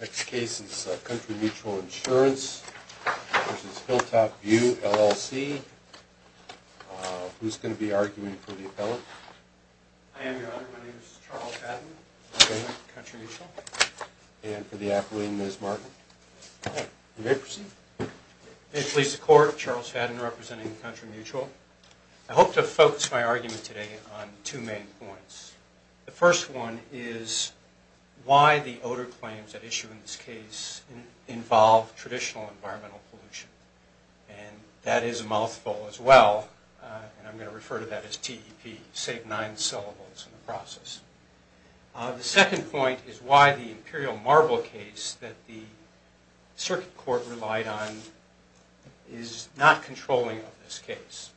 Next case is Country Mutual Insurance v. Hilltop View LLC. Who's going to be arguing for the appellant? I am, Your Honor. My name is Charles Fadden. I represent Country Mutual. And for the appellant, Ms. Martin? You may proceed. May it please the Court, Charles Fadden representing Country Mutual. I hope to focus my argument today on two main points. The first one is why the odor claims at issue in this case involve traditional environmental pollution. And that is a mouthful as well. And I'm going to refer to that as TEP, save nine syllables in the process. The second point is why the Imperial Marble case that the Circuit Court relied on is not controlling of this case.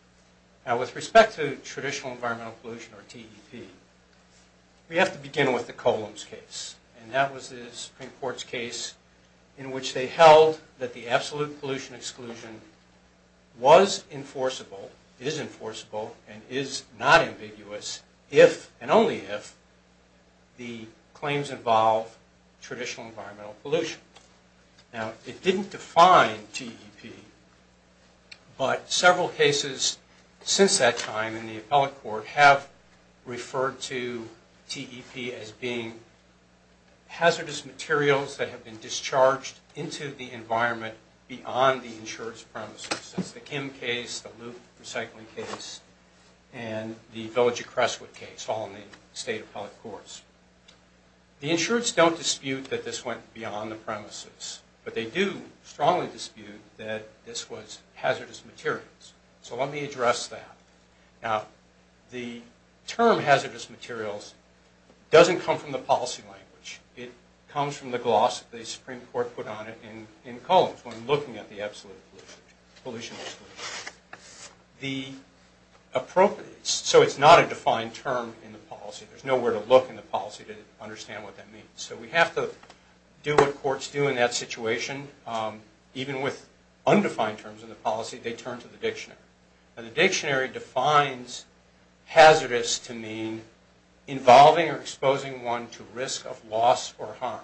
Now, with respect to traditional environmental pollution or TEP, we have to begin with the Columns case. And that was the Supreme Court's case in which they held that the absolute pollution exclusion was enforceable, is enforceable, and is not ambiguous if and only if the claims involve traditional environmental pollution. Now, it didn't define TEP. But several cases since that time in the appellate court have referred to TEP as being hazardous materials that have been discharged into the environment beyond the insurer's premises. That's the Kim case, the Luke recycling case, and the Village of Crestwood case, all in the state appellate courts. The insurers don't dispute that this went beyond the premises. But they do strongly dispute that this was hazardous materials. So let me address that. Now, the term hazardous materials doesn't come from the policy language. It comes from the gloss that the Supreme Court put on it in Columns when looking at the absolute pollution exclusion. So it's not a defined term in the policy. There's nowhere to look in the policy to understand what that means. So we have to do what courts do in that situation. Even with undefined terms in the policy, they turn to the dictionary. And the dictionary defines hazardous to mean involving or exposing one to risk of loss or harm.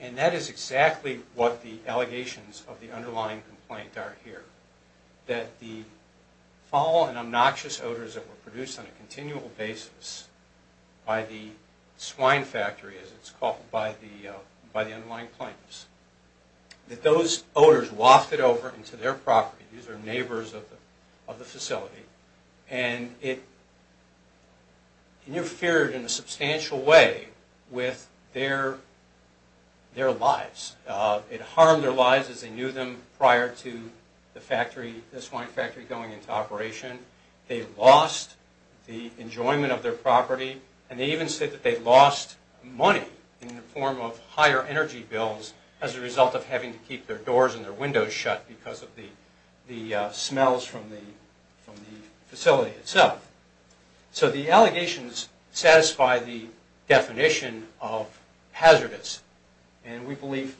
And that is exactly what the allegations of the underlying complaint are here. That the foul and obnoxious odors that were produced on a continual basis by the swine factory, as it's called by the underlying claims, that those odors wafted over into their properties, these are neighbors of the facility. And it interfered in a substantial way with their lives. It harmed their lives as they knew them prior to the factory, the swine factory going into operation. They lost the enjoyment of their property. And they even said that they lost money in the form of higher energy bills as a result of having to keep their doors and their windows shut because of the smells from the facility itself. So the allegations satisfy the definition of hazardous. And we believe,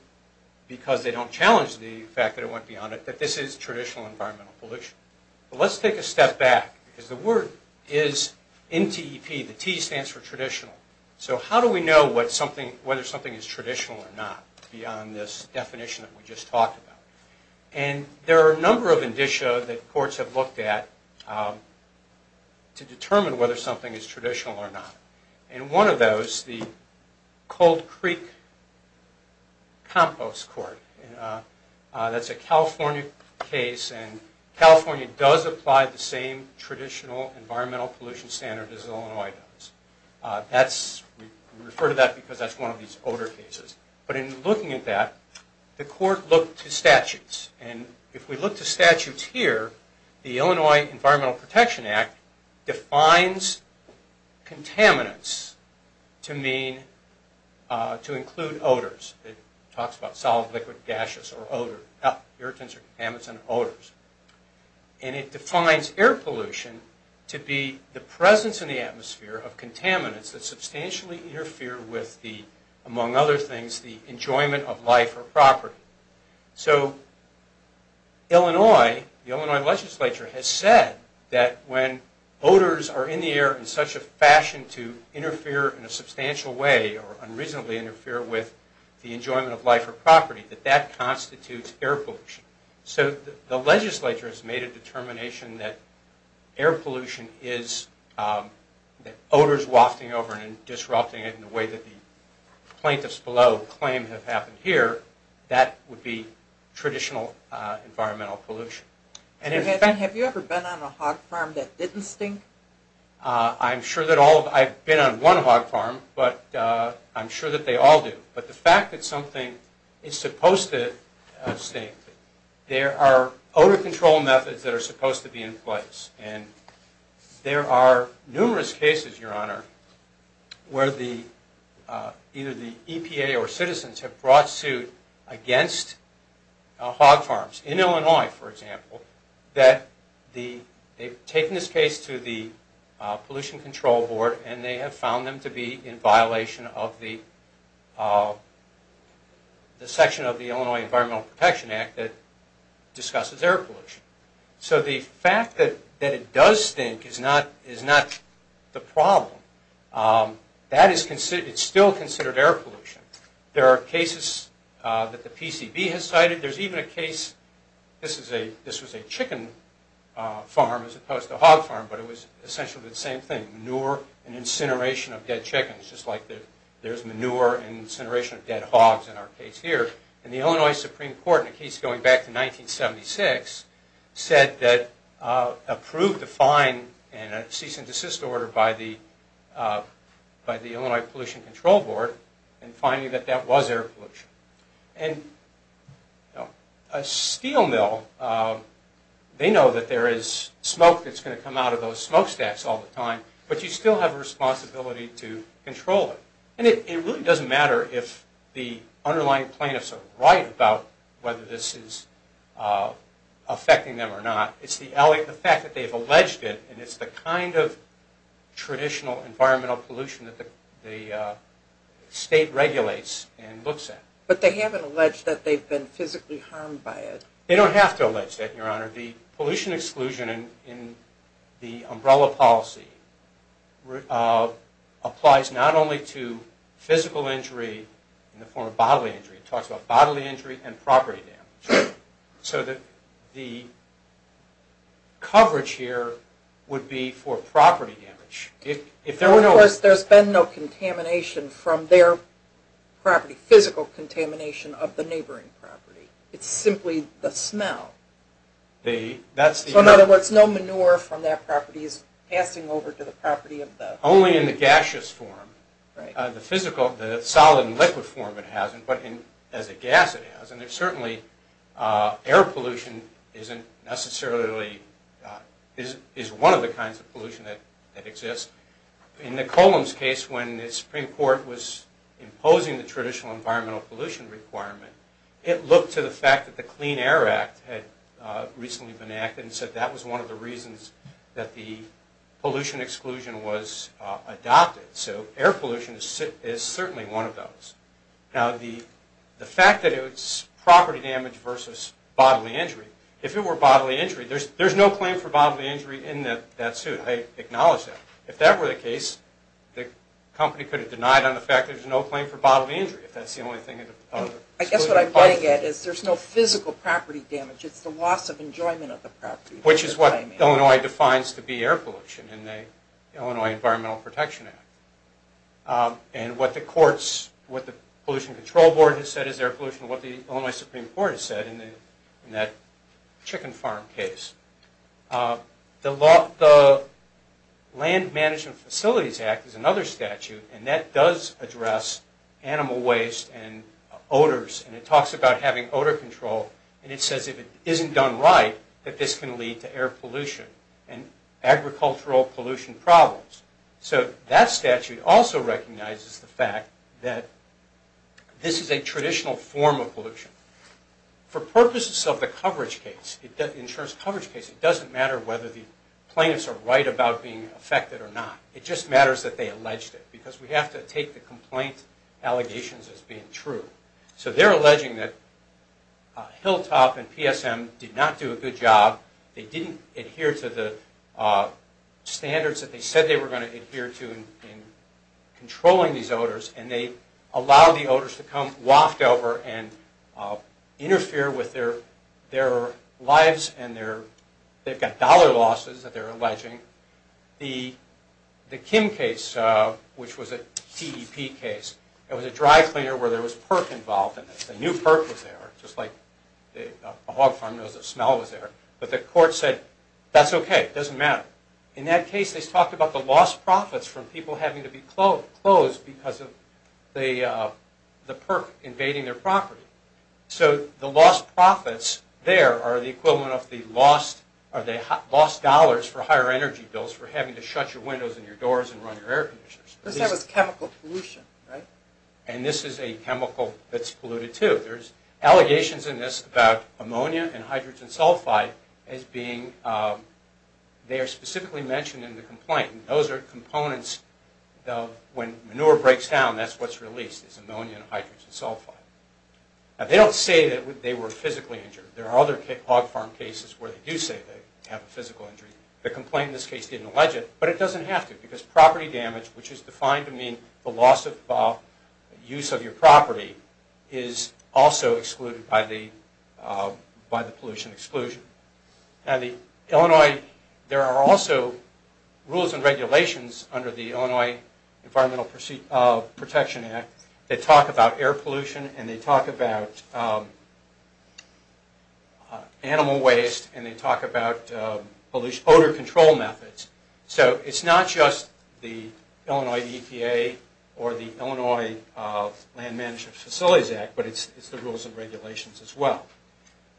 because they don't challenge the fact that it went beyond it, that this is traditional environmental pollution. But let's take a step back, because the word is N-T-E-P. The T stands for traditional. So how do we know whether something is traditional or not beyond this definition that we just talked about? And there are a number of indicia that courts have looked at to determine whether something is traditional or not. And one of those, the Cold Creek Compost Court, that's a California case. And California does apply the same traditional environmental pollution standard as Illinois does. We refer to that because that's one of these odor cases. But in looking at that, the court looked to statutes. And if we look to statutes here, the Illinois Environmental Protection Act defines contaminants to include odors. It talks about solid, liquid, gaseous, or odor. Irritants or contaminants and odors. And it defines air pollution to be the presence in the atmosphere of contaminants that substantially interfere with the, among other things, the enjoyment of life or property. So Illinois, the Illinois legislature has said that when odors are in the air in such a fashion to interfere in a substantial way or unreasonably interfere with the enjoyment of life or property, that that constitutes air pollution. So the legislature has made a determination that air pollution is, that odors wafting over and disrupting it in a way that the plaintiffs below claim have happened here, that would be traditional environmental pollution. Have you ever been on a hog farm that didn't stink? I'm sure that all, I've been on one hog farm, but I'm sure that they all do. But the fact that something is supposed to stink, there are odor control methods that are supposed to be in place. And there are numerous cases, Your Honor, where the, either the EPA or citizens have brought suit against hog farms. In Illinois, for example, that the, they've taken this case to the Pollution Control Board and they have found them to be in violation of the section of the Illinois Environmental Protection Act that discusses air pollution. So the fact that it does stink is not the problem. That is considered, it's still considered air pollution. There are cases that the PCB has cited. There's even a case, this is a, this was a chicken farm as opposed to a hog farm, but it was essentially the same thing, manure and incineration of dead chickens, just like there's manure and incineration of dead hogs in our case here. And the Illinois Supreme Court, in a case going back to 1976, said that approved a fine and a cease and desist order by the Illinois Pollution Control Board in finding that that was air pollution. And a steel mill, they know that there is smoke that's going to come out of those smokestacks all the time, but you still have a responsibility to control it. And it really doesn't matter if the underlying plaintiffs are right about whether this is affecting them or not. It's the fact that they've alleged it and it's the kind of traditional environmental pollution that the state regulates and looks at. But they haven't alleged that they've been physically harmed by it. They don't have to allege that, Your Honor. The pollution exclusion in the umbrella policy applies not only to physical injury in the form of bodily injury. It talks about bodily injury and property damage. So that the coverage here would be for property damage. Of course, there's been no contamination from their property, physical contamination of the neighboring property. It's simply the smell. So in other words, no manure from that property is passing over to the property of the… Only in the gaseous form. The physical, the solid and liquid form it hasn't, but as a gas it has. And certainly air pollution isn't necessarily, is one of the kinds of pollution that exists. In the Columns case, when the Supreme Court was imposing the traditional environmental pollution requirement, it looked to the fact that the Clean Air Act had recently been enacted and said that was one of the reasons that the pollution exclusion was adopted. So air pollution is certainly one of those. Now the fact that it's property damage versus bodily injury, if it were bodily injury, there's no claim for bodily injury in that suit. I acknowledge that. If that were the case, the company could have denied on the fact that there's no claim for bodily injury. If that's the only thing… I guess what I'm getting at is there's no physical property damage. It's the loss of enjoyment of the property. Which is what Illinois defines to be air pollution in the Illinois Environmental Protection Act. And what the courts, what the Pollution Control Board has said is air pollution, and what the Illinois Supreme Court has said in that chicken farm case. The Land Management Facilities Act is another statute, and that does address animal waste and odors. And it talks about having odor control, and it says if it isn't done right that this can lead to air pollution and agricultural pollution problems. So that statute also recognizes the fact that this is a traditional form of pollution. For purposes of the coverage case, insurance coverage case, it doesn't matter whether the plaintiffs are right about being affected or not. It just matters that they alleged it, because we have to take the complaint allegations as being true. So they're alleging that Hilltop and PSM did not do a good job. They didn't adhere to the standards that they said they were going to adhere to in controlling these odors, and they allowed the odors to come waft over and interfere with their lives, and they've got dollar losses that they're alleging. The Kim case, which was a TEP case, it was a dry cleaner where there was perc involved in this. A new perc was there, just like a hog farm knows that smell was there. But the court said, that's okay, it doesn't matter. In that case, they talked about the lost profits from people having to be closed because of the perc invading their property. So the lost profits there are the equivalent of the lost dollars for higher energy bills for having to shut your windows and your doors and run your air conditioners. This was chemical pollution, right? And this is a chemical that's polluted too. There's allegations in this about ammonia and hydrogen sulfide as being, they are specifically mentioned in the complaint. Those are components of when manure breaks down, that's what's released is ammonia and hydrogen sulfide. They don't say that they were physically injured. There are other hog farm cases where they do say they have a physical injury. The complaint in this case didn't allege it, but it doesn't have to, because property damage, which is defined to mean the loss of use of your property, is also excluded by the pollution exclusion. Now the Illinois, there are also rules and regulations under the Illinois Environmental Protection Act that talk about air pollution, and they talk about animal waste, and they talk about odor control methods. So it's not just the Illinois EPA or the Illinois Land Management Facilities Act, but it's the rules and regulations as well.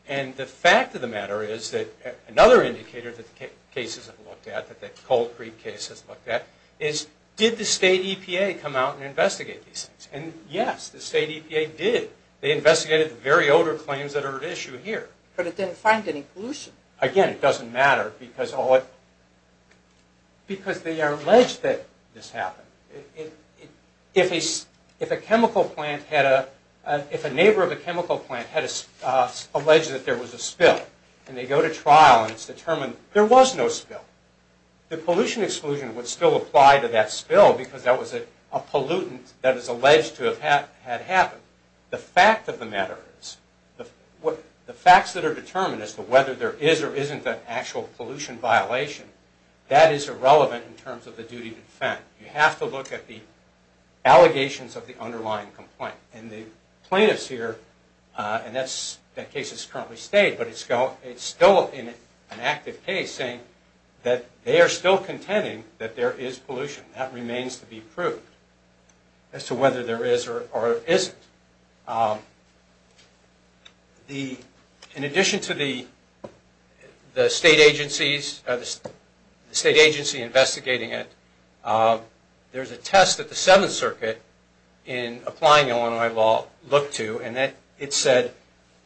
And the fact of the matter is that another indicator that the cases have looked at, that the Cold Creek case has looked at, is did the state EPA come out and investigate these things? And yes, the state EPA did. They investigated the very odor claims that are at issue here. But it didn't find any pollution. Again, it doesn't matter, because they are alleged that this happened. If a neighbor of a chemical plant had alleged that there was a spill, and they go to trial and it's determined there was no spill, the pollution exclusion would still apply to that spill, because that was a pollutant that is alleged to have happened. So the fact of the matter is, the facts that are determined as to whether there is or isn't an actual pollution violation, that is irrelevant in terms of the duty to defend. You have to look at the allegations of the underlying complaint. And the plaintiffs here, and that case is currently stayed, but it's still an active case saying that they are still contending that there is pollution. That remains to be proved as to whether there is or isn't. In addition to the state agencies investigating it, there's a test that the Seventh Circuit, in applying Illinois law, looked to, and it said,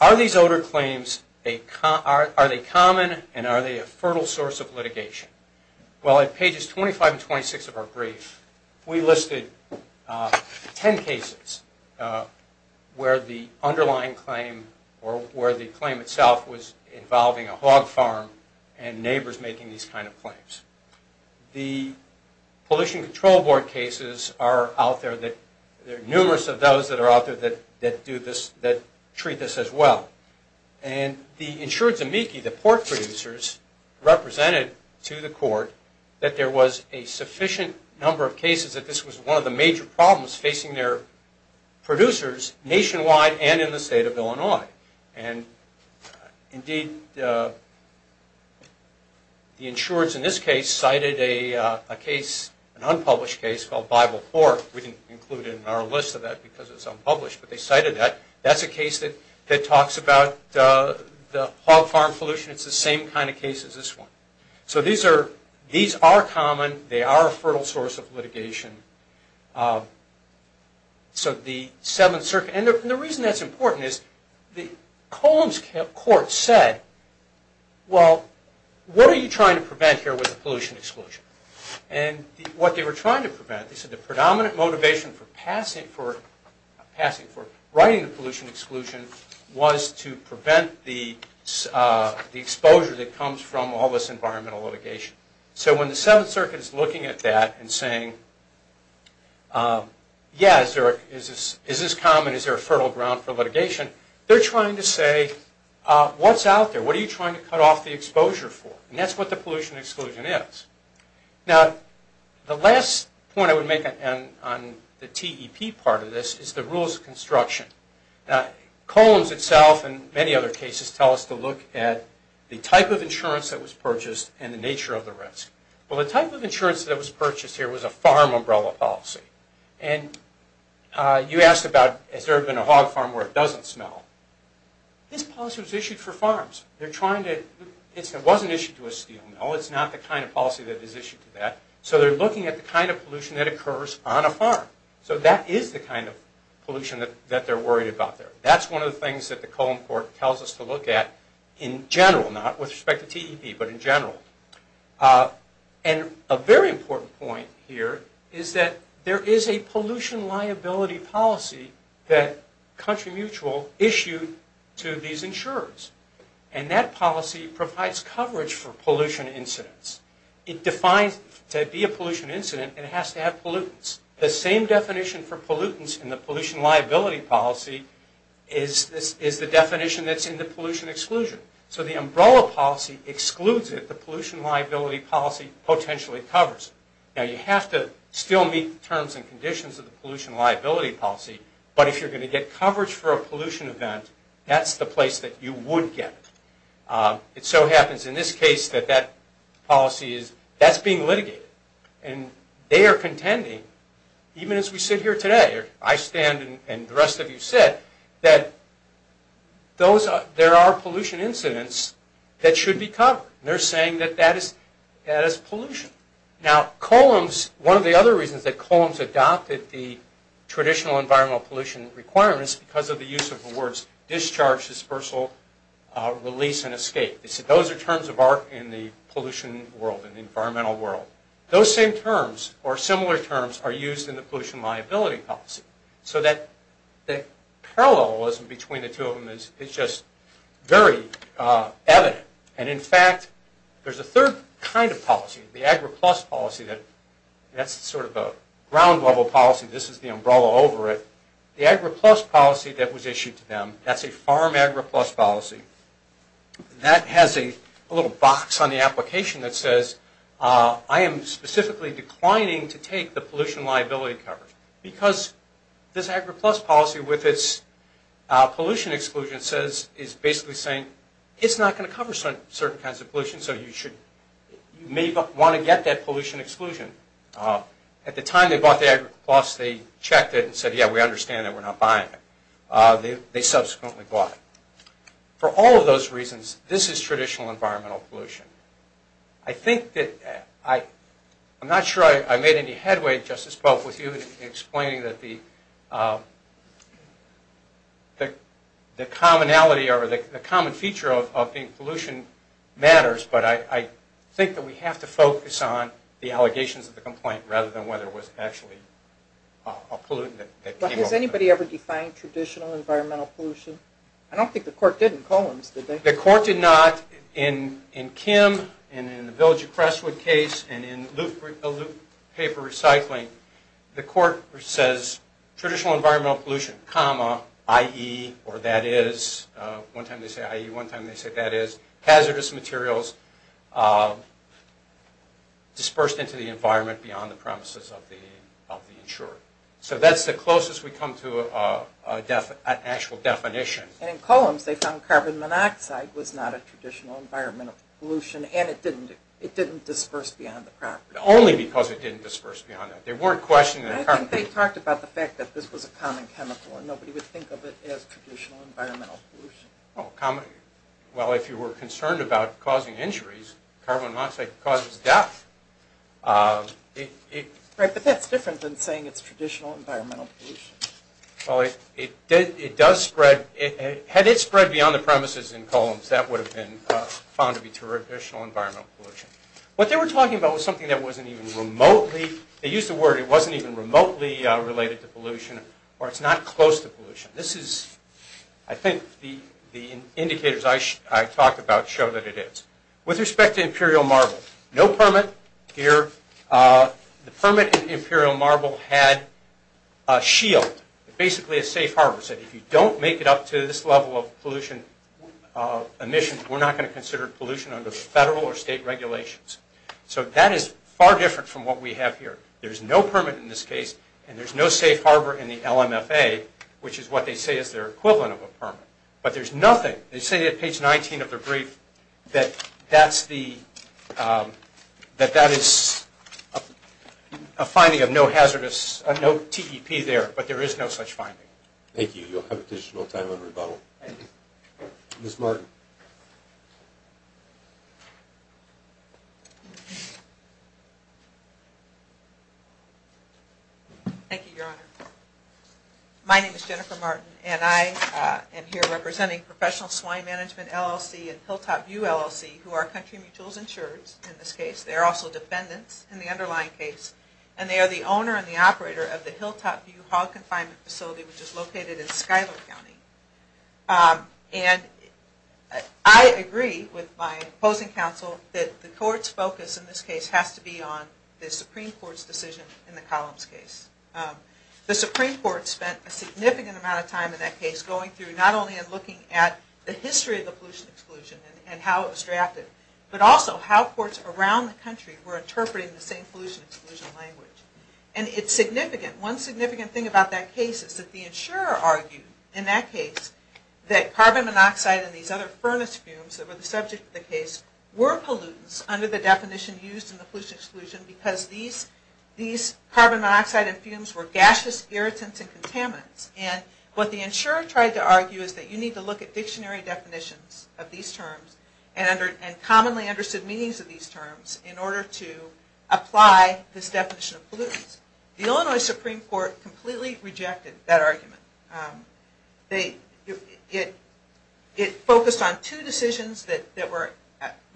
are these odor claims common and are they a fertile source of litigation? Well, at pages 25 and 26 of our brief, we listed ten cases where the underlying claim, or where the claim itself was involving a hog farm and neighbors making these kind of claims. The Pollution Control Board cases are out there, there are numerous of those that are out there that treat this as well. And the insured amici, the pork producers, represented to the court that there was a sufficient number of cases that this was one of the major problems facing their producers nationwide and in the state of Illinois. And indeed, the insureds in this case cited a case, an unpublished case, called Bible Pork. We didn't include it in our list of that because it was unpublished, but they cited that. That's a case that talks about the hog farm pollution. It's the same kind of case as this one. So these are common, they are a fertile source of litigation. So the Seventh Circuit, and the reason that's important is, Colm's court said, well, what are you trying to prevent here with the pollution exclusion? And what they were trying to prevent, they said the predominant motivation for writing the pollution exclusion was to prevent the exposure that comes from all this environmental litigation. So when the Seventh Circuit is looking at that and saying, yeah, is this common, is there a fertile ground for litigation? They're trying to say, what's out there? What are you trying to cut off the exposure for? And that's what the pollution exclusion is. Now, the last point I would make on the TEP part of this is the rules of construction. Now, Colm's itself and many other cases tell us to look at the type of insurance that was purchased and the nature of the risk. Well, the type of insurance that was purchased here was a farm umbrella policy. And you asked about, has there ever been a hog farm where it doesn't smell? This policy was issued for farms. It wasn't issued to a steel mill. It's not the kind of policy that is issued to that. So they're looking at the kind of pollution that occurs on a farm. So that is the kind of pollution that they're worried about there. That's one of the things that the Colm Court tells us to look at in general, not with respect to TEP, but in general. And a very important point here is that there is a pollution liability policy that Country Mutual issued to these insurers. And that policy provides coverage for pollution incidents. It defines, to be a pollution incident, it has to have pollutants. The same definition for pollutants in the pollution liability policy is the definition that's in the pollution exclusion. So the umbrella policy excludes it. The pollution liability policy potentially covers it. Now, you have to still meet the terms and conditions of the pollution liability policy but if you're going to get coverage for a pollution event, that's the place that you would get it. It so happens in this case that that policy is, that's being litigated. And they are contending, even as we sit here today, or I stand and the rest of you sit, that there are pollution incidents that should be covered. They're saying that that is pollution. Now, Columns, one of the other reasons that Columns adopted the traditional environmental pollution requirements is because of the use of the words discharge, dispersal, release, and escape. They said those are terms of art in the pollution world, in the environmental world. Those same terms, or similar terms, are used in the pollution liability policy. So that parallelism between the two of them is just very evident. And in fact, there's a third kind of policy, the AgriPlus policy, that's sort of a ground level policy, this is the umbrella over it. The AgriPlus policy that was issued to them, that's a farm AgriPlus policy, that has a little box on the application that says, I am specifically declining to take the pollution liability coverage. Because this AgriPlus policy with its pollution exclusion says, is basically saying, it's not going to cover certain kinds of pollution, so you may want to get that pollution exclusion. At the time they bought the AgriPlus, they checked it and said, yeah, we understand that we're not buying it. They subsequently bought it. For all of those reasons, this is traditional environmental pollution. I think that, I'm not sure I made any headway, Justice Pope, with you in explaining that the common feature of being pollution matters, but I think that we have to focus on the allegations of the complaint, rather than whether it was actually a pollutant that came over. Has anybody ever defined traditional environmental pollution? I don't think the court did in Collins, did they? The court did not. In Kim, and in the Village of Crestwood case, and in a loop paper recycling, the court says, traditional environmental pollution, comma, IE, or that is, one time they say IE, one time they say that is, hazardous materials, dispersed into the environment beyond the premises of the insurer. So that's the closest we come to an actual definition. And in Collins, they found carbon monoxide was not a traditional environmental pollution, and it didn't disperse beyond the property. Only because it didn't disperse beyond that. There weren't questions... I think they talked about the fact that this was a common chemical, and nobody would think of it as traditional environmental pollution. Well, if you were concerned about causing injuries, carbon monoxide causes death. Right, but that's different than saying it's traditional environmental pollution. Well, it does spread, had it spread beyond the premises in Collins, that would have been found to be traditional environmental pollution. What they were talking about was something that wasn't even remotely, they used the word, it wasn't even remotely related to pollution, or it's not close to pollution. This is, I think the indicators I talked about show that it is. With respect to Imperial Marble, no permit here. The permit in Imperial Marble had a shield, basically a safe harbor, that said if you don't make it up to this level of pollution emissions, we're not going to consider pollution under the federal or state regulations. So that is far different from what we have here. There's no permit in this case, and there's no safe harbor in the LMFA, which is what they say is their equivalent of a permit. But there's nothing, they say at page 19 of their brief, that that is a finding of no hazardous, no TEP there, but there is no such finding. Thank you. You'll have additional time on rebuttal. Ms. Martin. Thank you, Your Honor. My name is Jennifer Martin, and I am here representing Professional Swine Management LLC and Hilltop View LLC, who are country mutuals insurers in this case. They are also defendants in the underlying case, and they are the owner and the operator of the Hilltop View Hog Confinement Facility, which is located in Schuyler County. And I agree with my opposing counsel that the court's focus in this case has to be on the Supreme Court's decision in the Collins case. The Supreme Court spent a significant amount of time in that case going through not only and looking at the history of the pollution exclusion and how it was drafted, but also how courts around the country were interpreting the same pollution exclusion language. And it's significant. One significant thing about that case is that the insurer argued in that case that carbon monoxide and these other furnace fumes that were the subject of the case were pollutants under the definition used in the pollution exclusion because these carbon monoxide and fumes were gaseous irritants and contaminants. And what the insurer tried to argue is that you need to look at dictionary definitions of these terms and commonly understood meanings of these terms in order to apply this definition of pollutants. The Illinois Supreme Court completely rejected that argument. It focused on two decisions that were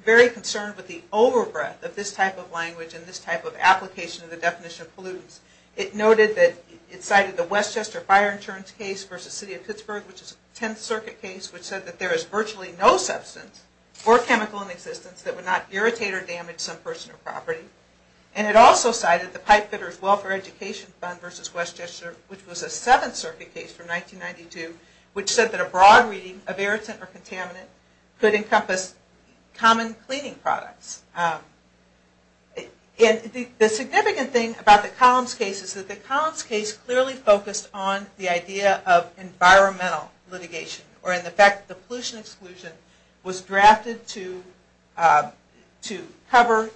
very concerned with the over-breath of this type of language and this type of application of the definition of pollutants. It noted that it cited the Westchester Fire Insurance case versus City of Pittsburgh, which is a Tenth Circuit case, which said that there is virtually no substance or chemical in existence that would not irritate or damage some person or property. And it also cited the Pipefitters Welfare Education Fund versus Westchester, which was a Seventh Circuit case from 1992, which said that a broad reading of irritant or contaminant could encompass common cleaning products. And the significant thing about the Collins case is that the Collins case clearly focused on the idea of environmental litigation or in the fact that the pollution exclusion was drafted to cover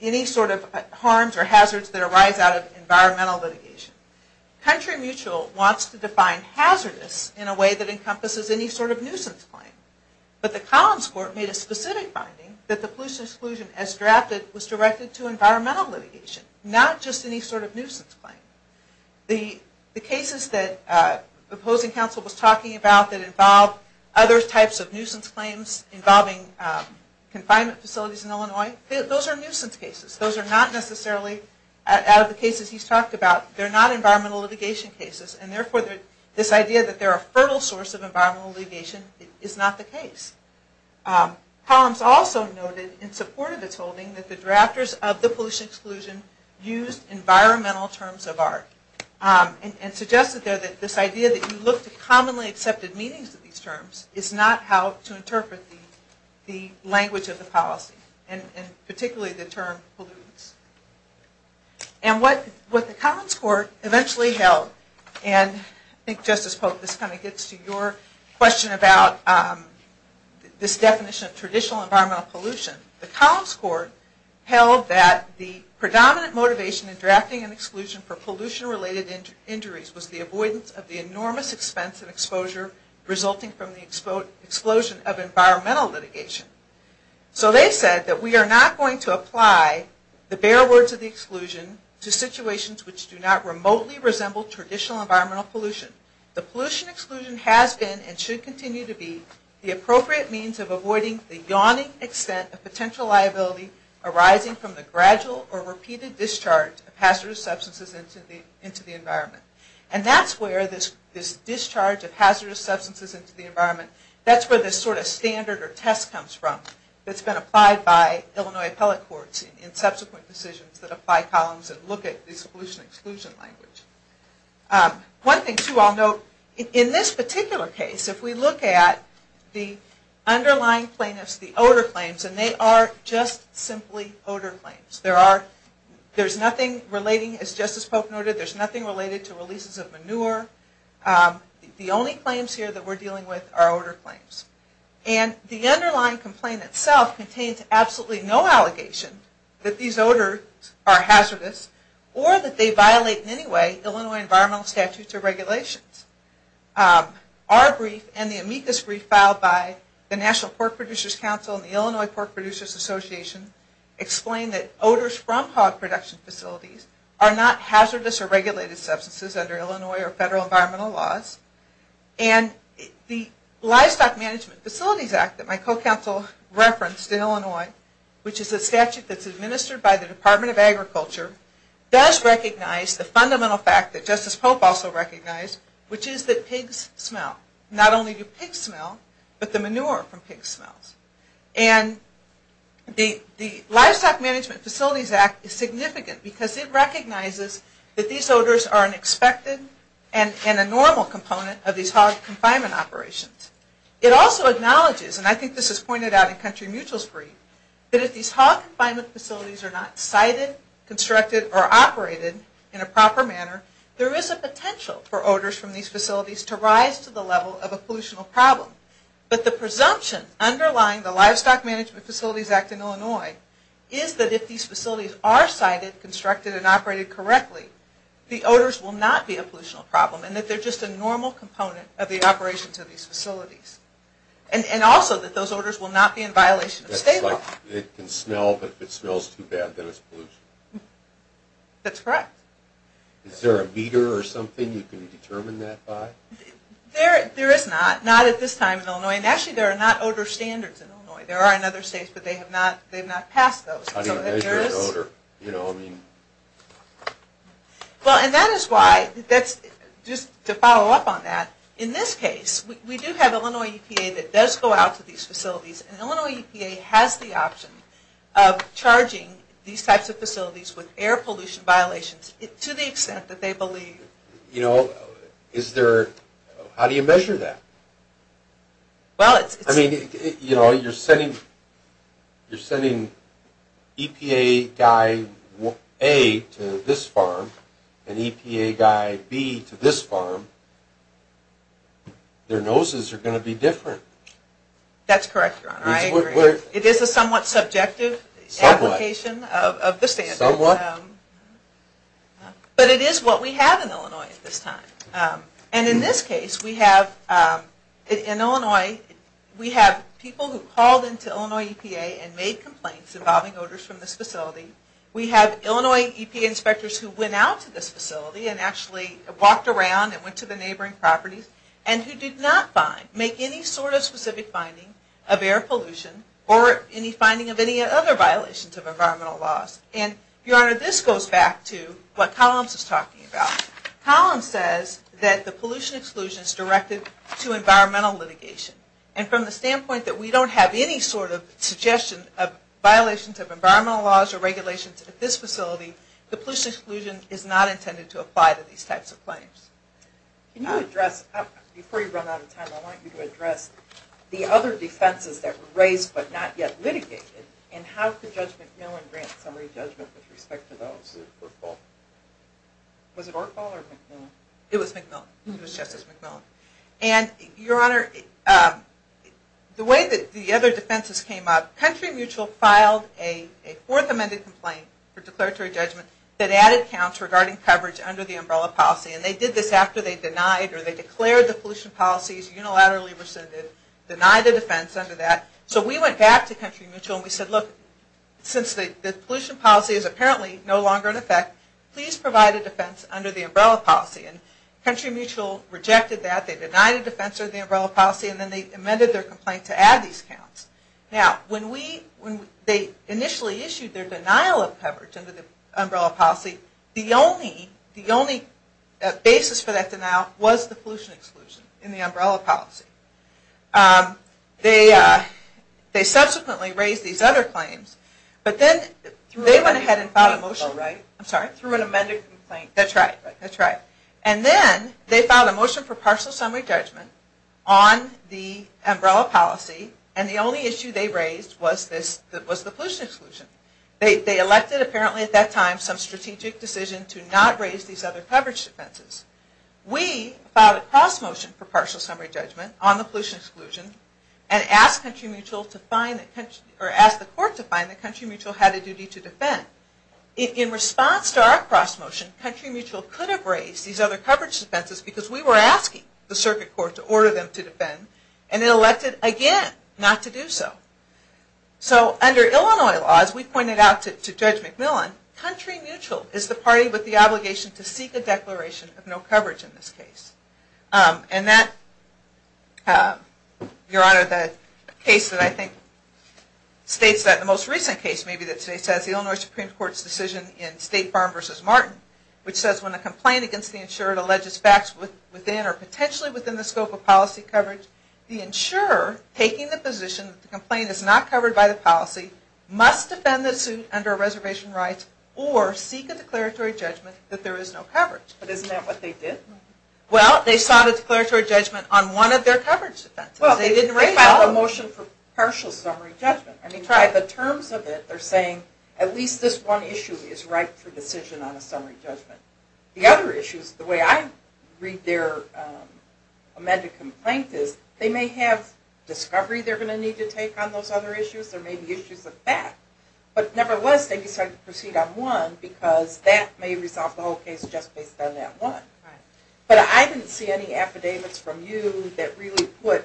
any sort of harms or hazards that arise out of environmental litigation. Country Mutual wants to define hazardous in a way that encompasses any sort of nuisance claim. But the Collins court made a specific finding that the pollution exclusion, as drafted, was directed to environmental litigation, not just any sort of nuisance claim. The cases that the opposing counsel was talking about that involve other types of nuisance claims involving confinement facilities in Illinois, those are nuisance cases. Those are not necessarily, out of the cases he's talked about, they're not environmental litigation cases. And therefore, this idea that they're a fertile source of environmental litigation is not the case. Collins also noted in support of its holding that the drafters of the pollution exclusion used environmental terms of art. And suggested there that this idea that you look to commonly accepted meanings of these terms is not how to interpret the language of the policy. And particularly the term pollutants. And what the Collins court eventually held, and I think, Justice Pope, this kind of gets to your question about this definition of traditional environmental pollution. The Collins court held that the predominant motivation in drafting an exclusion for pollution related injuries was the avoidance of the enormous expense and exposure resulting from the explosion of environmental litigation. So they said that we are not going to apply the bare words of the exclusion to situations which do not remotely resemble traditional environmental pollution. The pollution exclusion has been, and should continue to be, the appropriate means of avoiding the yawning extent of potential liability arising from the gradual or repeated discharge of hazardous substances into the environment. And that's where this discharge of hazardous substances into the environment, that's where this sort of standard or test comes from. It's been applied by Illinois appellate courts in subsequent decisions that apply Collins and look at this pollution exclusion language. One thing, too, I'll note, in this particular case, if we look at the underlying plaintiffs, the odor claims, and they are just simply odor claims. There's nothing relating, as Justice Pope noted, there's nothing related to releases of manure. The only claims here that we're dealing with are odor claims. And the underlying complaint itself contains absolutely no allegation that these odors are hazardous or that they violate, in any way, Illinois environmental statutes or regulations. Our brief and the amicus brief filed by the National Pork Producers Council and the Illinois Pork Producers Association explain that odors from hog production facilities are not hazardous or regulated substances under Illinois or federal environmental laws. And the Livestock Management Facilities Act that my co-counsel referenced in Illinois, which is a statute that's administered by the Department of Agriculture, does recognize the fundamental fact that Justice Pope also recognized, which is that pigs smell. Not only do pigs smell, but the manure from pigs smells. And the Livestock Management Facilities Act is significant because it recognizes that these odors are an expected and a normal component of these hog confinement operations. It also acknowledges, and I think this is pointed out in Country Mutual's brief, that if these hog confinement facilities are not sited, constructed, or operated in a proper manner, there is a potential for odors from these facilities to rise to the level of a pollution problem. But the presumption underlying the Livestock Management Facilities Act in Illinois is that if these facilities are sited, constructed, and operated correctly, the odors will not be a pollution problem and that they're just a normal component of the operations of these facilities. And also that those odors will not be in violation of state law. It can smell, but if it smells too bad, then it's pollution. That's correct. Is there a meter or something you can determine that by? There is not, not at this time in Illinois. And actually there are not odor standards in Illinois. There are in other states, but they have not passed those. How do you measure an odor? Well, and that is why, just to follow up on that, in this case, we do have Illinois EPA that does go out to these facilities, and Illinois EPA has the option of charging these types of facilities with air pollution violations to the extent that they believe. You know, is there, how do you measure that? I mean, you know, you're sending EPA guy A to this farm and EPA guy B to this farm, their noses are going to be different. That's correct, Your Honor. I agree. It is a somewhat subjective application of the standards. Somewhat? But it is what we have in Illinois at this time. And in this case, we have, in Illinois, we have people who called into Illinois EPA and made complaints involving odors from this facility. We have Illinois EPA inspectors who went out to this facility and actually walked around and went to the neighboring properties and who did not make any sort of specific finding of air pollution or any finding of any other violations of environmental laws. And, Your Honor, this goes back to what Collins was talking about. Collins says that the pollution exclusion is directed to environmental litigation. And from the standpoint that we don't have any sort of suggestion of violations of environmental laws or regulations at this facility, the pollution exclusion is not intended to apply to these types of claims. Can you address, before you run out of time, I want you to address the other defenses that were raised but not yet litigated and how could Judge McMillan grant summary judgment with respect to those? Was it Ortfall or McMillan? It was McMillan. It was Justice McMillan. And, Your Honor, the way that the other defenses came up, Country Mutual filed a fourth amended complaint for declaratory judgment that added counts regarding coverage under the umbrella policy. And they did this after they denied or they declared the pollution policies unilaterally rescinded, denied the defense under that. So we went back to Country Mutual and we said, look, since the pollution policy is apparently no longer in effect, please provide a defense under the umbrella policy. And Country Mutual rejected that. They denied a defense under the umbrella policy and then they amended their complaint to add these counts. Now, when they initially issued their denial of coverage under the umbrella policy, the only basis for that denial was the pollution exclusion in the umbrella policy. They subsequently raised these other claims, but then they went ahead and filed a motion. I'm sorry? Through an amended complaint. That's right. And then they filed a motion for partial summary judgment on the umbrella policy and the only issue they raised was the pollution exclusion. They elected, apparently at that time, some strategic decision to not raise these other coverage defenses. We filed a cross motion for partial summary judgment on the pollution exclusion and asked the court to find that Country Mutual had a duty to defend. In response to our cross motion, Country Mutual could have raised these other coverage defenses because we were asking the circuit court to order them to defend and it elected again not to do so. So under Illinois law, as we pointed out to Judge McMillan, Country Mutual is the party with the obligation to seek a declaration of no coverage in this case. And that, Your Honor, the case that I think states that, the most recent case maybe that states that, is the Illinois Supreme Court's decision in State Farm v. Martin, which says when a complaint against the insurer alleges facts within or potentially within the scope of policy coverage, the insurer taking the position that the complaint is not covered by the policy must defend the suit under a reservation right or seek a declaratory judgment that there is no coverage. But isn't that what they did? Well, they sought a declaratory judgment on one of their coverage defenses. They didn't raise all of them. Well, they filed a motion for partial summary judgment. I mean, try the terms of it. They're saying at least this one issue is right for decision on a summary judgment. The other issues, the way I read their amended complaint is, they may have discovery they're going to need to take on those other issues. There may be issues of that. But nevertheless, they decided to proceed on one because that may resolve the whole case just based on that one. But I didn't see any affidavits from you that really put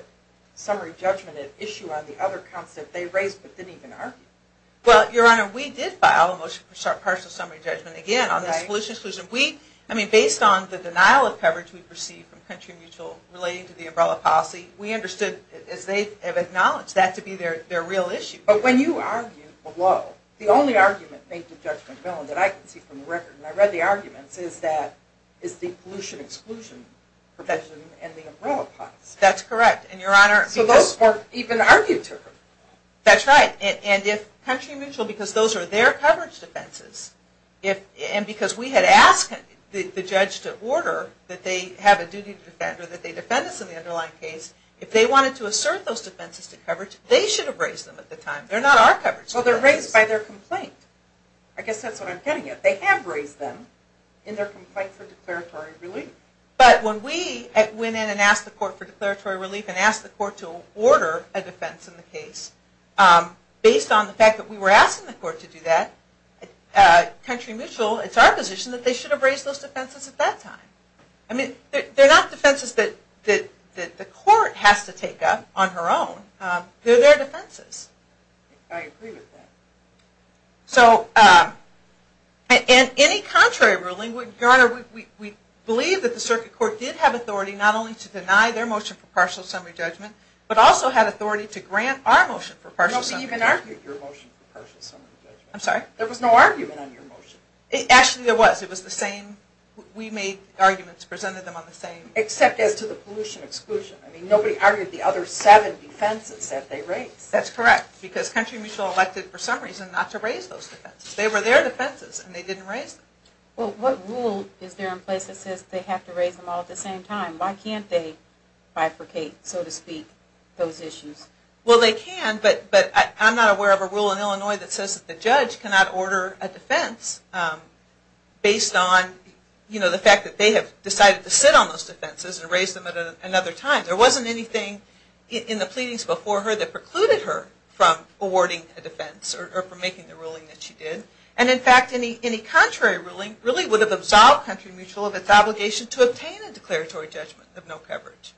summary judgment at issue on the other counts that they raised but didn't even argue. Well, Your Honor, we did file a motion for partial summary judgment, again, on this pollution exclusion. I mean, based on the denial of coverage we've received from Country Mutual relating to the umbrella policy, we understood, as they have acknowledged, that to be their real issue. But when you argue below, the only argument made to Judge McMillan that I can see from the record, and I read the arguments, is that it's the pollution exclusion profession and the umbrella policy. That's correct. So those weren't even argued to. That's right. And if Country Mutual, because those are their coverage defenses, and because we had asked the judge to order that they have a duty to defend or that they defend us in the underlying case, if they wanted to assert those defenses to coverage, they should have raised them at the time. They're not our coverage. Well, they're raised by their complaint. I guess that's what I'm getting at. They have raised them in their complaint for declaratory relief. But when we went in and asked the court for declaratory relief and asked the court to order a defense in the case, based on the fact that we were asking the court to do that, Country Mutual, it's our position that they should have raised those defenses at that time. They're not defenses that the court has to take up on her own. They're their defenses. I agree with that. So in any contrary ruling, we believe that the circuit court did have authority not only to deny their motion for partial summary judgment, but also had authority to grant our motion for partial summary judgment. We argued your motion for partial summary judgment. I'm sorry? There was no argument on your motion. Actually, there was. We made arguments, presented them on the same. Except as to the pollution exclusion. I mean, nobody argued the other seven defenses that they raised. That's correct. Because Country Mutual elected for some reason not to raise those defenses. They were their defenses, and they didn't raise them. Well, what rule is there in place that says they have to raise them all at the same time? Why can't they bifurcate, so to speak, those issues? Well, they can, but I'm not aware of a rule in Illinois that says the judge cannot order a defense based on the fact that they have decided to sit on those defenses and raise them at another time. There wasn't anything in the pleadings before her that precluded her from awarding a defense or from making the ruling that she did. And, in fact, any contrary ruling really would have absolved Country Mutual of its obligation to obtain a declaratory judgment of no coverage.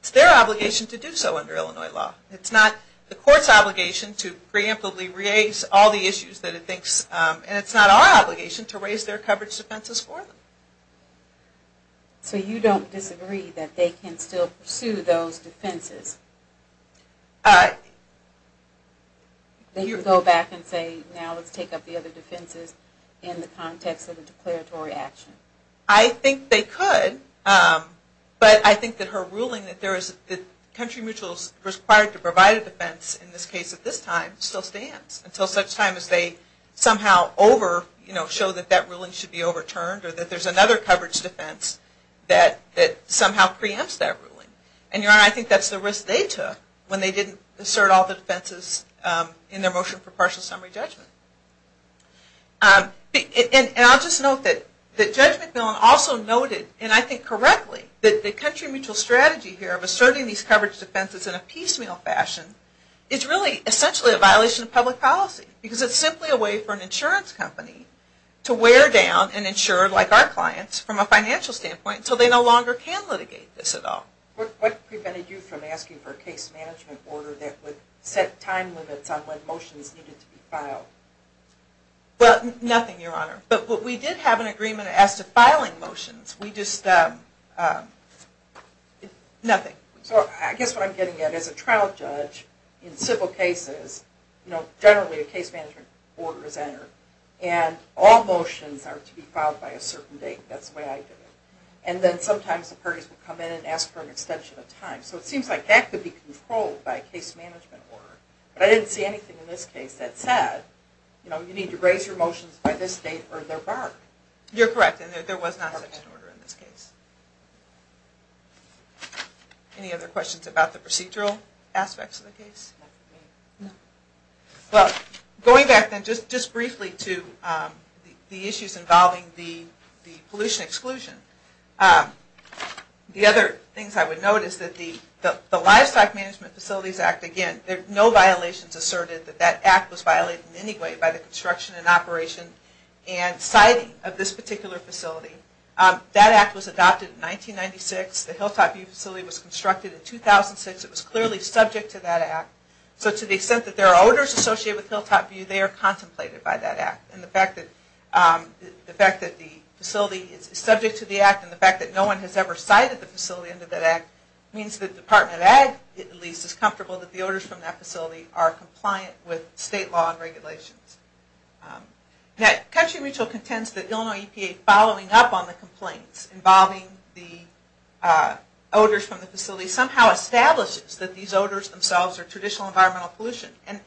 It's their obligation to do so under Illinois law. It's not the court's obligation to preemptively raise all the issues that it thinks, and it's not our obligation to raise their coverage defenses for them. So you don't disagree that they can still pursue those defenses? They could go back and say, now let's take up the other defenses in the context of a declaratory action. I think they could, but I think that her ruling that Country Mutual is required to provide a defense in this case at this time still stands until such time as they somehow show that that ruling should be overturned or that there's another coverage defense that somehow preempts that ruling. And, Your Honor, I think that's the risk they took when they didn't assert all the defenses in their motion for partial summary judgment. And I'll just note that Judge McMillan also noted, and I think correctly, that the Country Mutual strategy here of asserting these coverage defenses in a piecemeal fashion is really essentially a violation of public policy. Because it's simply a way for an insurance company to wear down and insure, like our clients, from a financial standpoint, until they no longer can litigate this at all. What prevented you from asking for a case management order that would set time limits on when motions needed to be filed? Nothing, Your Honor. But we did have an agreement as to filing motions. We just... nothing. So I guess what I'm getting at is a trial judge in civil cases, generally a case management order is entered, and all motions are to be filed by a certain date. That's the way I do it. And then sometimes the parties will come in and ask for an extension of time. So it seems like that could be controlled by a case management order. But I didn't see anything in this case that said, you need to raise your motions by this date or they're barred. You're correct. And there was not such an order in this case. Any other questions about the procedural aspects of the case? No. Well, going back then just briefly to the issues involving the pollution exclusion, the other things I would note is that the Livestock Management Facilities Act, again, no violations asserted that that act was violated in construction and operation and siting of this particular facility. That act was adopted in 1996. The Hilltop View facility was constructed in 2006. It was clearly subject to that act. So to the extent that there are odors associated with Hilltop View, they are contemplated by that act. And the fact that the facility is subject to the act and the fact that no one has ever sited the facility under that act means that the Department of Ag, at least, is comfortable that the odors from that facility are environmental pollution. Now, Country Mutual contends that Illinois EPA following up on the complaints involving the odors from the facility somehow establishes that these odors themselves are traditional environmental pollution. And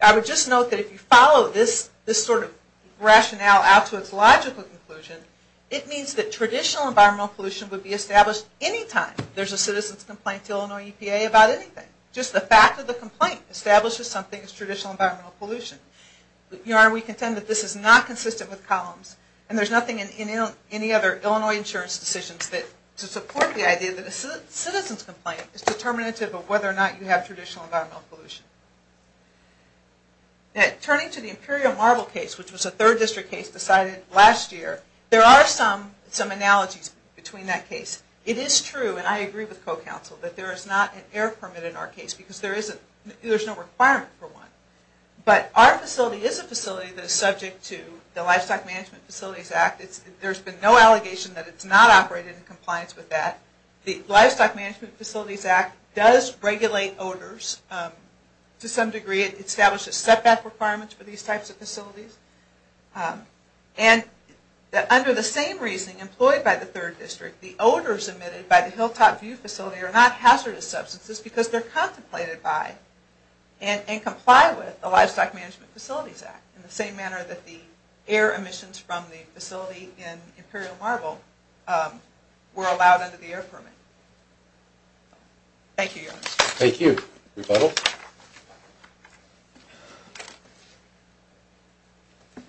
I would just note that if you follow this sort of rationale out to its logical conclusion, it means that traditional environmental pollution would be established anytime there's a citizen's complaint to Illinois EPA about anything. Just the fact that the complaint establishes something as traditional environmental pollution. Your Honor, we contend that this is not consistent with columns and there's nothing in any other Illinois insurance decisions to support the idea that a citizen's complaint is determinative of whether or not you have traditional environmental pollution. Turning to the Imperial Marble case, which was a third district case decided last year, there are some analogies between that case. It is true, and I agree with co-counsel, that there is not an air permit in our facility. But our facility is a facility that is subject to the Livestock Management Facilities Act. There's been no allegation that it's not operated in compliance with that. The Livestock Management Facilities Act does regulate odors to some degree. It establishes setback requirements for these types of facilities. And under the same reasoning employed by the third district, the odors emitted by the Hilltop View facility are not hazardous substances because they're contemplated by. And comply with the Livestock Management Facilities Act in the same manner that the air emissions from the facility in Imperial Marble were allowed under the air permit. Thank you, Your Honor. Thank you. Rebuttal? I'm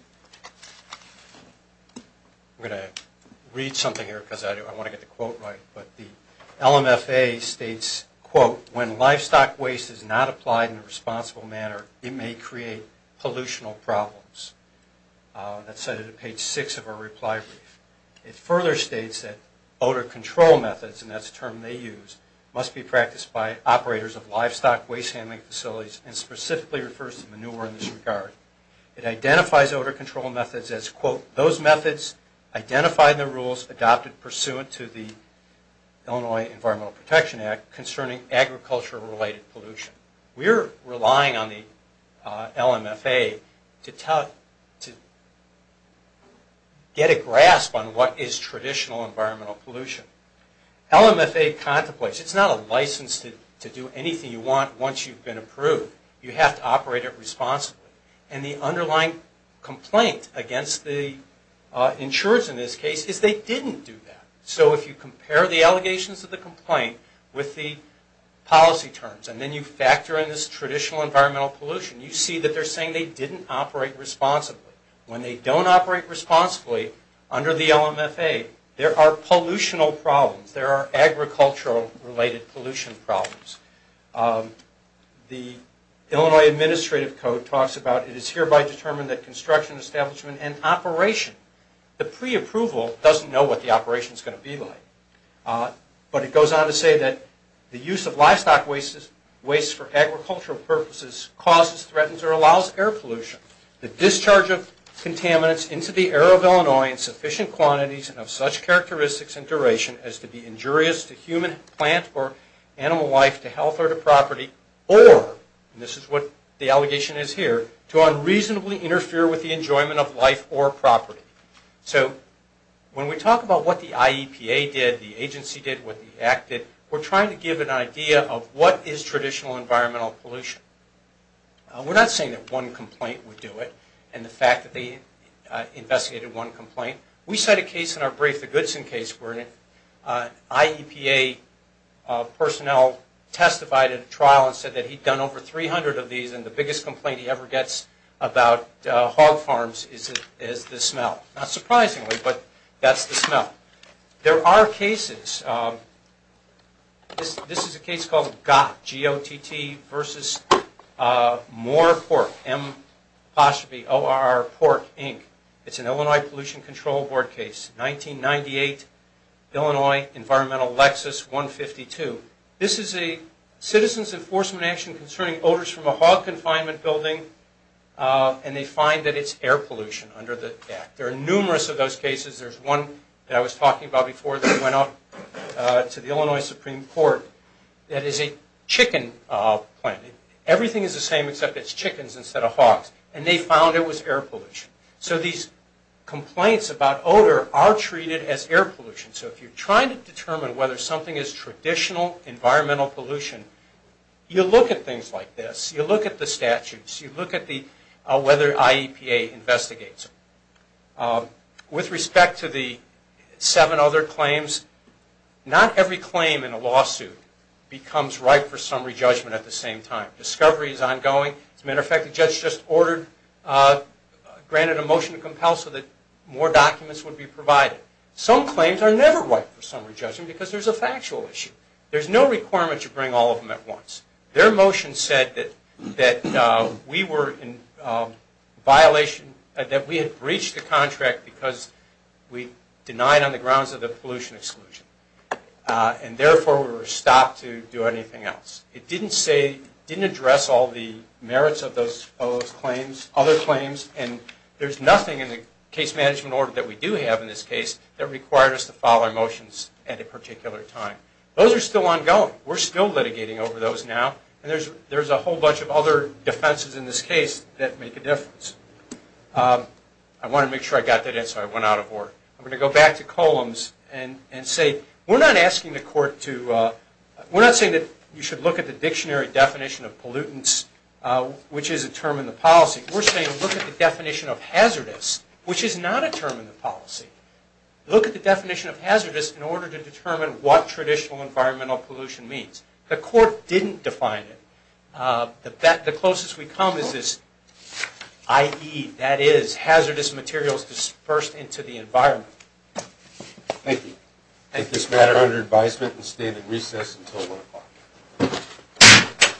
going to read something here because I want to get the quote right. But the LMFA states, quote, when livestock waste is not applied in a responsible manner, it may create pollutional problems. That's cited at page six of our reply brief. It further states that odor control methods, and that's a term they use, must be practiced by operators of livestock waste handling facilities and specifically refers to manure in this regard. It identifies odor control methods as, quote, those methods identified in the Illinois Environmental Protection Act concerning agriculture-related pollution. We're relying on the LMFA to get a grasp on what is traditional environmental pollution. LMFA contemplates, it's not a license to do anything you want once you've been approved. You have to operate it responsibly. And the underlying complaint against the insurers in this case is they didn't do that. So if you compare the allegations of the complaint with the policy terms and then you factor in this traditional environmental pollution, you see that they're saying they didn't operate responsibly. When they don't operate responsibly under the LMFA, there are pollutional problems. There are agricultural-related pollution problems. The Illinois Administrative Code talks about it is hereby determined that construction, establishment, and operation, the pre-approval doesn't know what the operation is going to be like. But it goes on to say that the use of livestock wastes for agricultural purposes causes, threatens, or allows air pollution. The discharge of contaminants into the air of Illinois in sufficient quantities and of such characteristics and duration as to be injurious to human, plant, or animal life, to health or to property, or, and this is what the allegation is here, to unreasonably interfere with the enjoyment of life or property. So when we talk about what the IEPA did, the agency did, what the act did, we're trying to give an idea of what is traditional environmental pollution. We're not saying that one complaint would do it and the fact that they investigated one complaint. We cite a case in our brief, the Goodson case, where an IEPA personnel testified at a trial and said that he'd done over 300 of these and the smell. Not surprisingly, but that's the smell. There are cases, this is a case called GOTT, G-O-T-T, versus Moore Pork, M-O-R-E-P-O-R-K, Inc. It's an Illinois Pollution Control Board case, 1998, Illinois, Environmental Lexus, 152. This is a citizen's enforcement action concerning odors from a hog confinement building and they find that it's air pollution under the act. There are numerous of those cases. There's one that I was talking about before that went out to the Illinois Supreme Court that is a chicken plant. Everything is the same except it's chickens instead of hogs. And they found it was air pollution. So these complaints about odor are treated as air pollution. So if you're trying to determine whether something is traditional environmental pollution, you look at things like this. You look at the statutes. You look at whether IEPA investigates it. With respect to the seven other claims, not every claim in a lawsuit becomes right for summary judgment at the same time. Discovery is ongoing. As a matter of fact, the judge just ordered, granted a motion to compel so that more documents would be provided. Some claims are never right for summary judgment because there's a factual issue. There's no requirement to bring all of them at once. Their motion said that we were in violation, that we had breached the contract because we denied on the grounds of the pollution exclusion. And therefore, we were stopped to do anything else. It didn't say, didn't address all the merits of those claims, other claims, and there's nothing in the case management order that we do have in this case that required us to file our motions at a particular time. Those are still ongoing. We're still litigating over those now, and there's a whole bunch of other defenses in this case that make a difference. I want to make sure I got that in, so I went out of order. I'm going to go back to Columns and say we're not asking the court to, we're not saying that you should look at the dictionary definition of pollutants, which is a term in the policy. We're saying look at the definition of hazardous, which is not a term in the policy. Look at the definition of hazardous in order to determine what traditional environmental pollution means. The court didn't define it. The closest we come is this, i.e., that is hazardous materials dispersed into the environment. Thank you. Take this matter under advisement and stand at recess until 1 o'clock.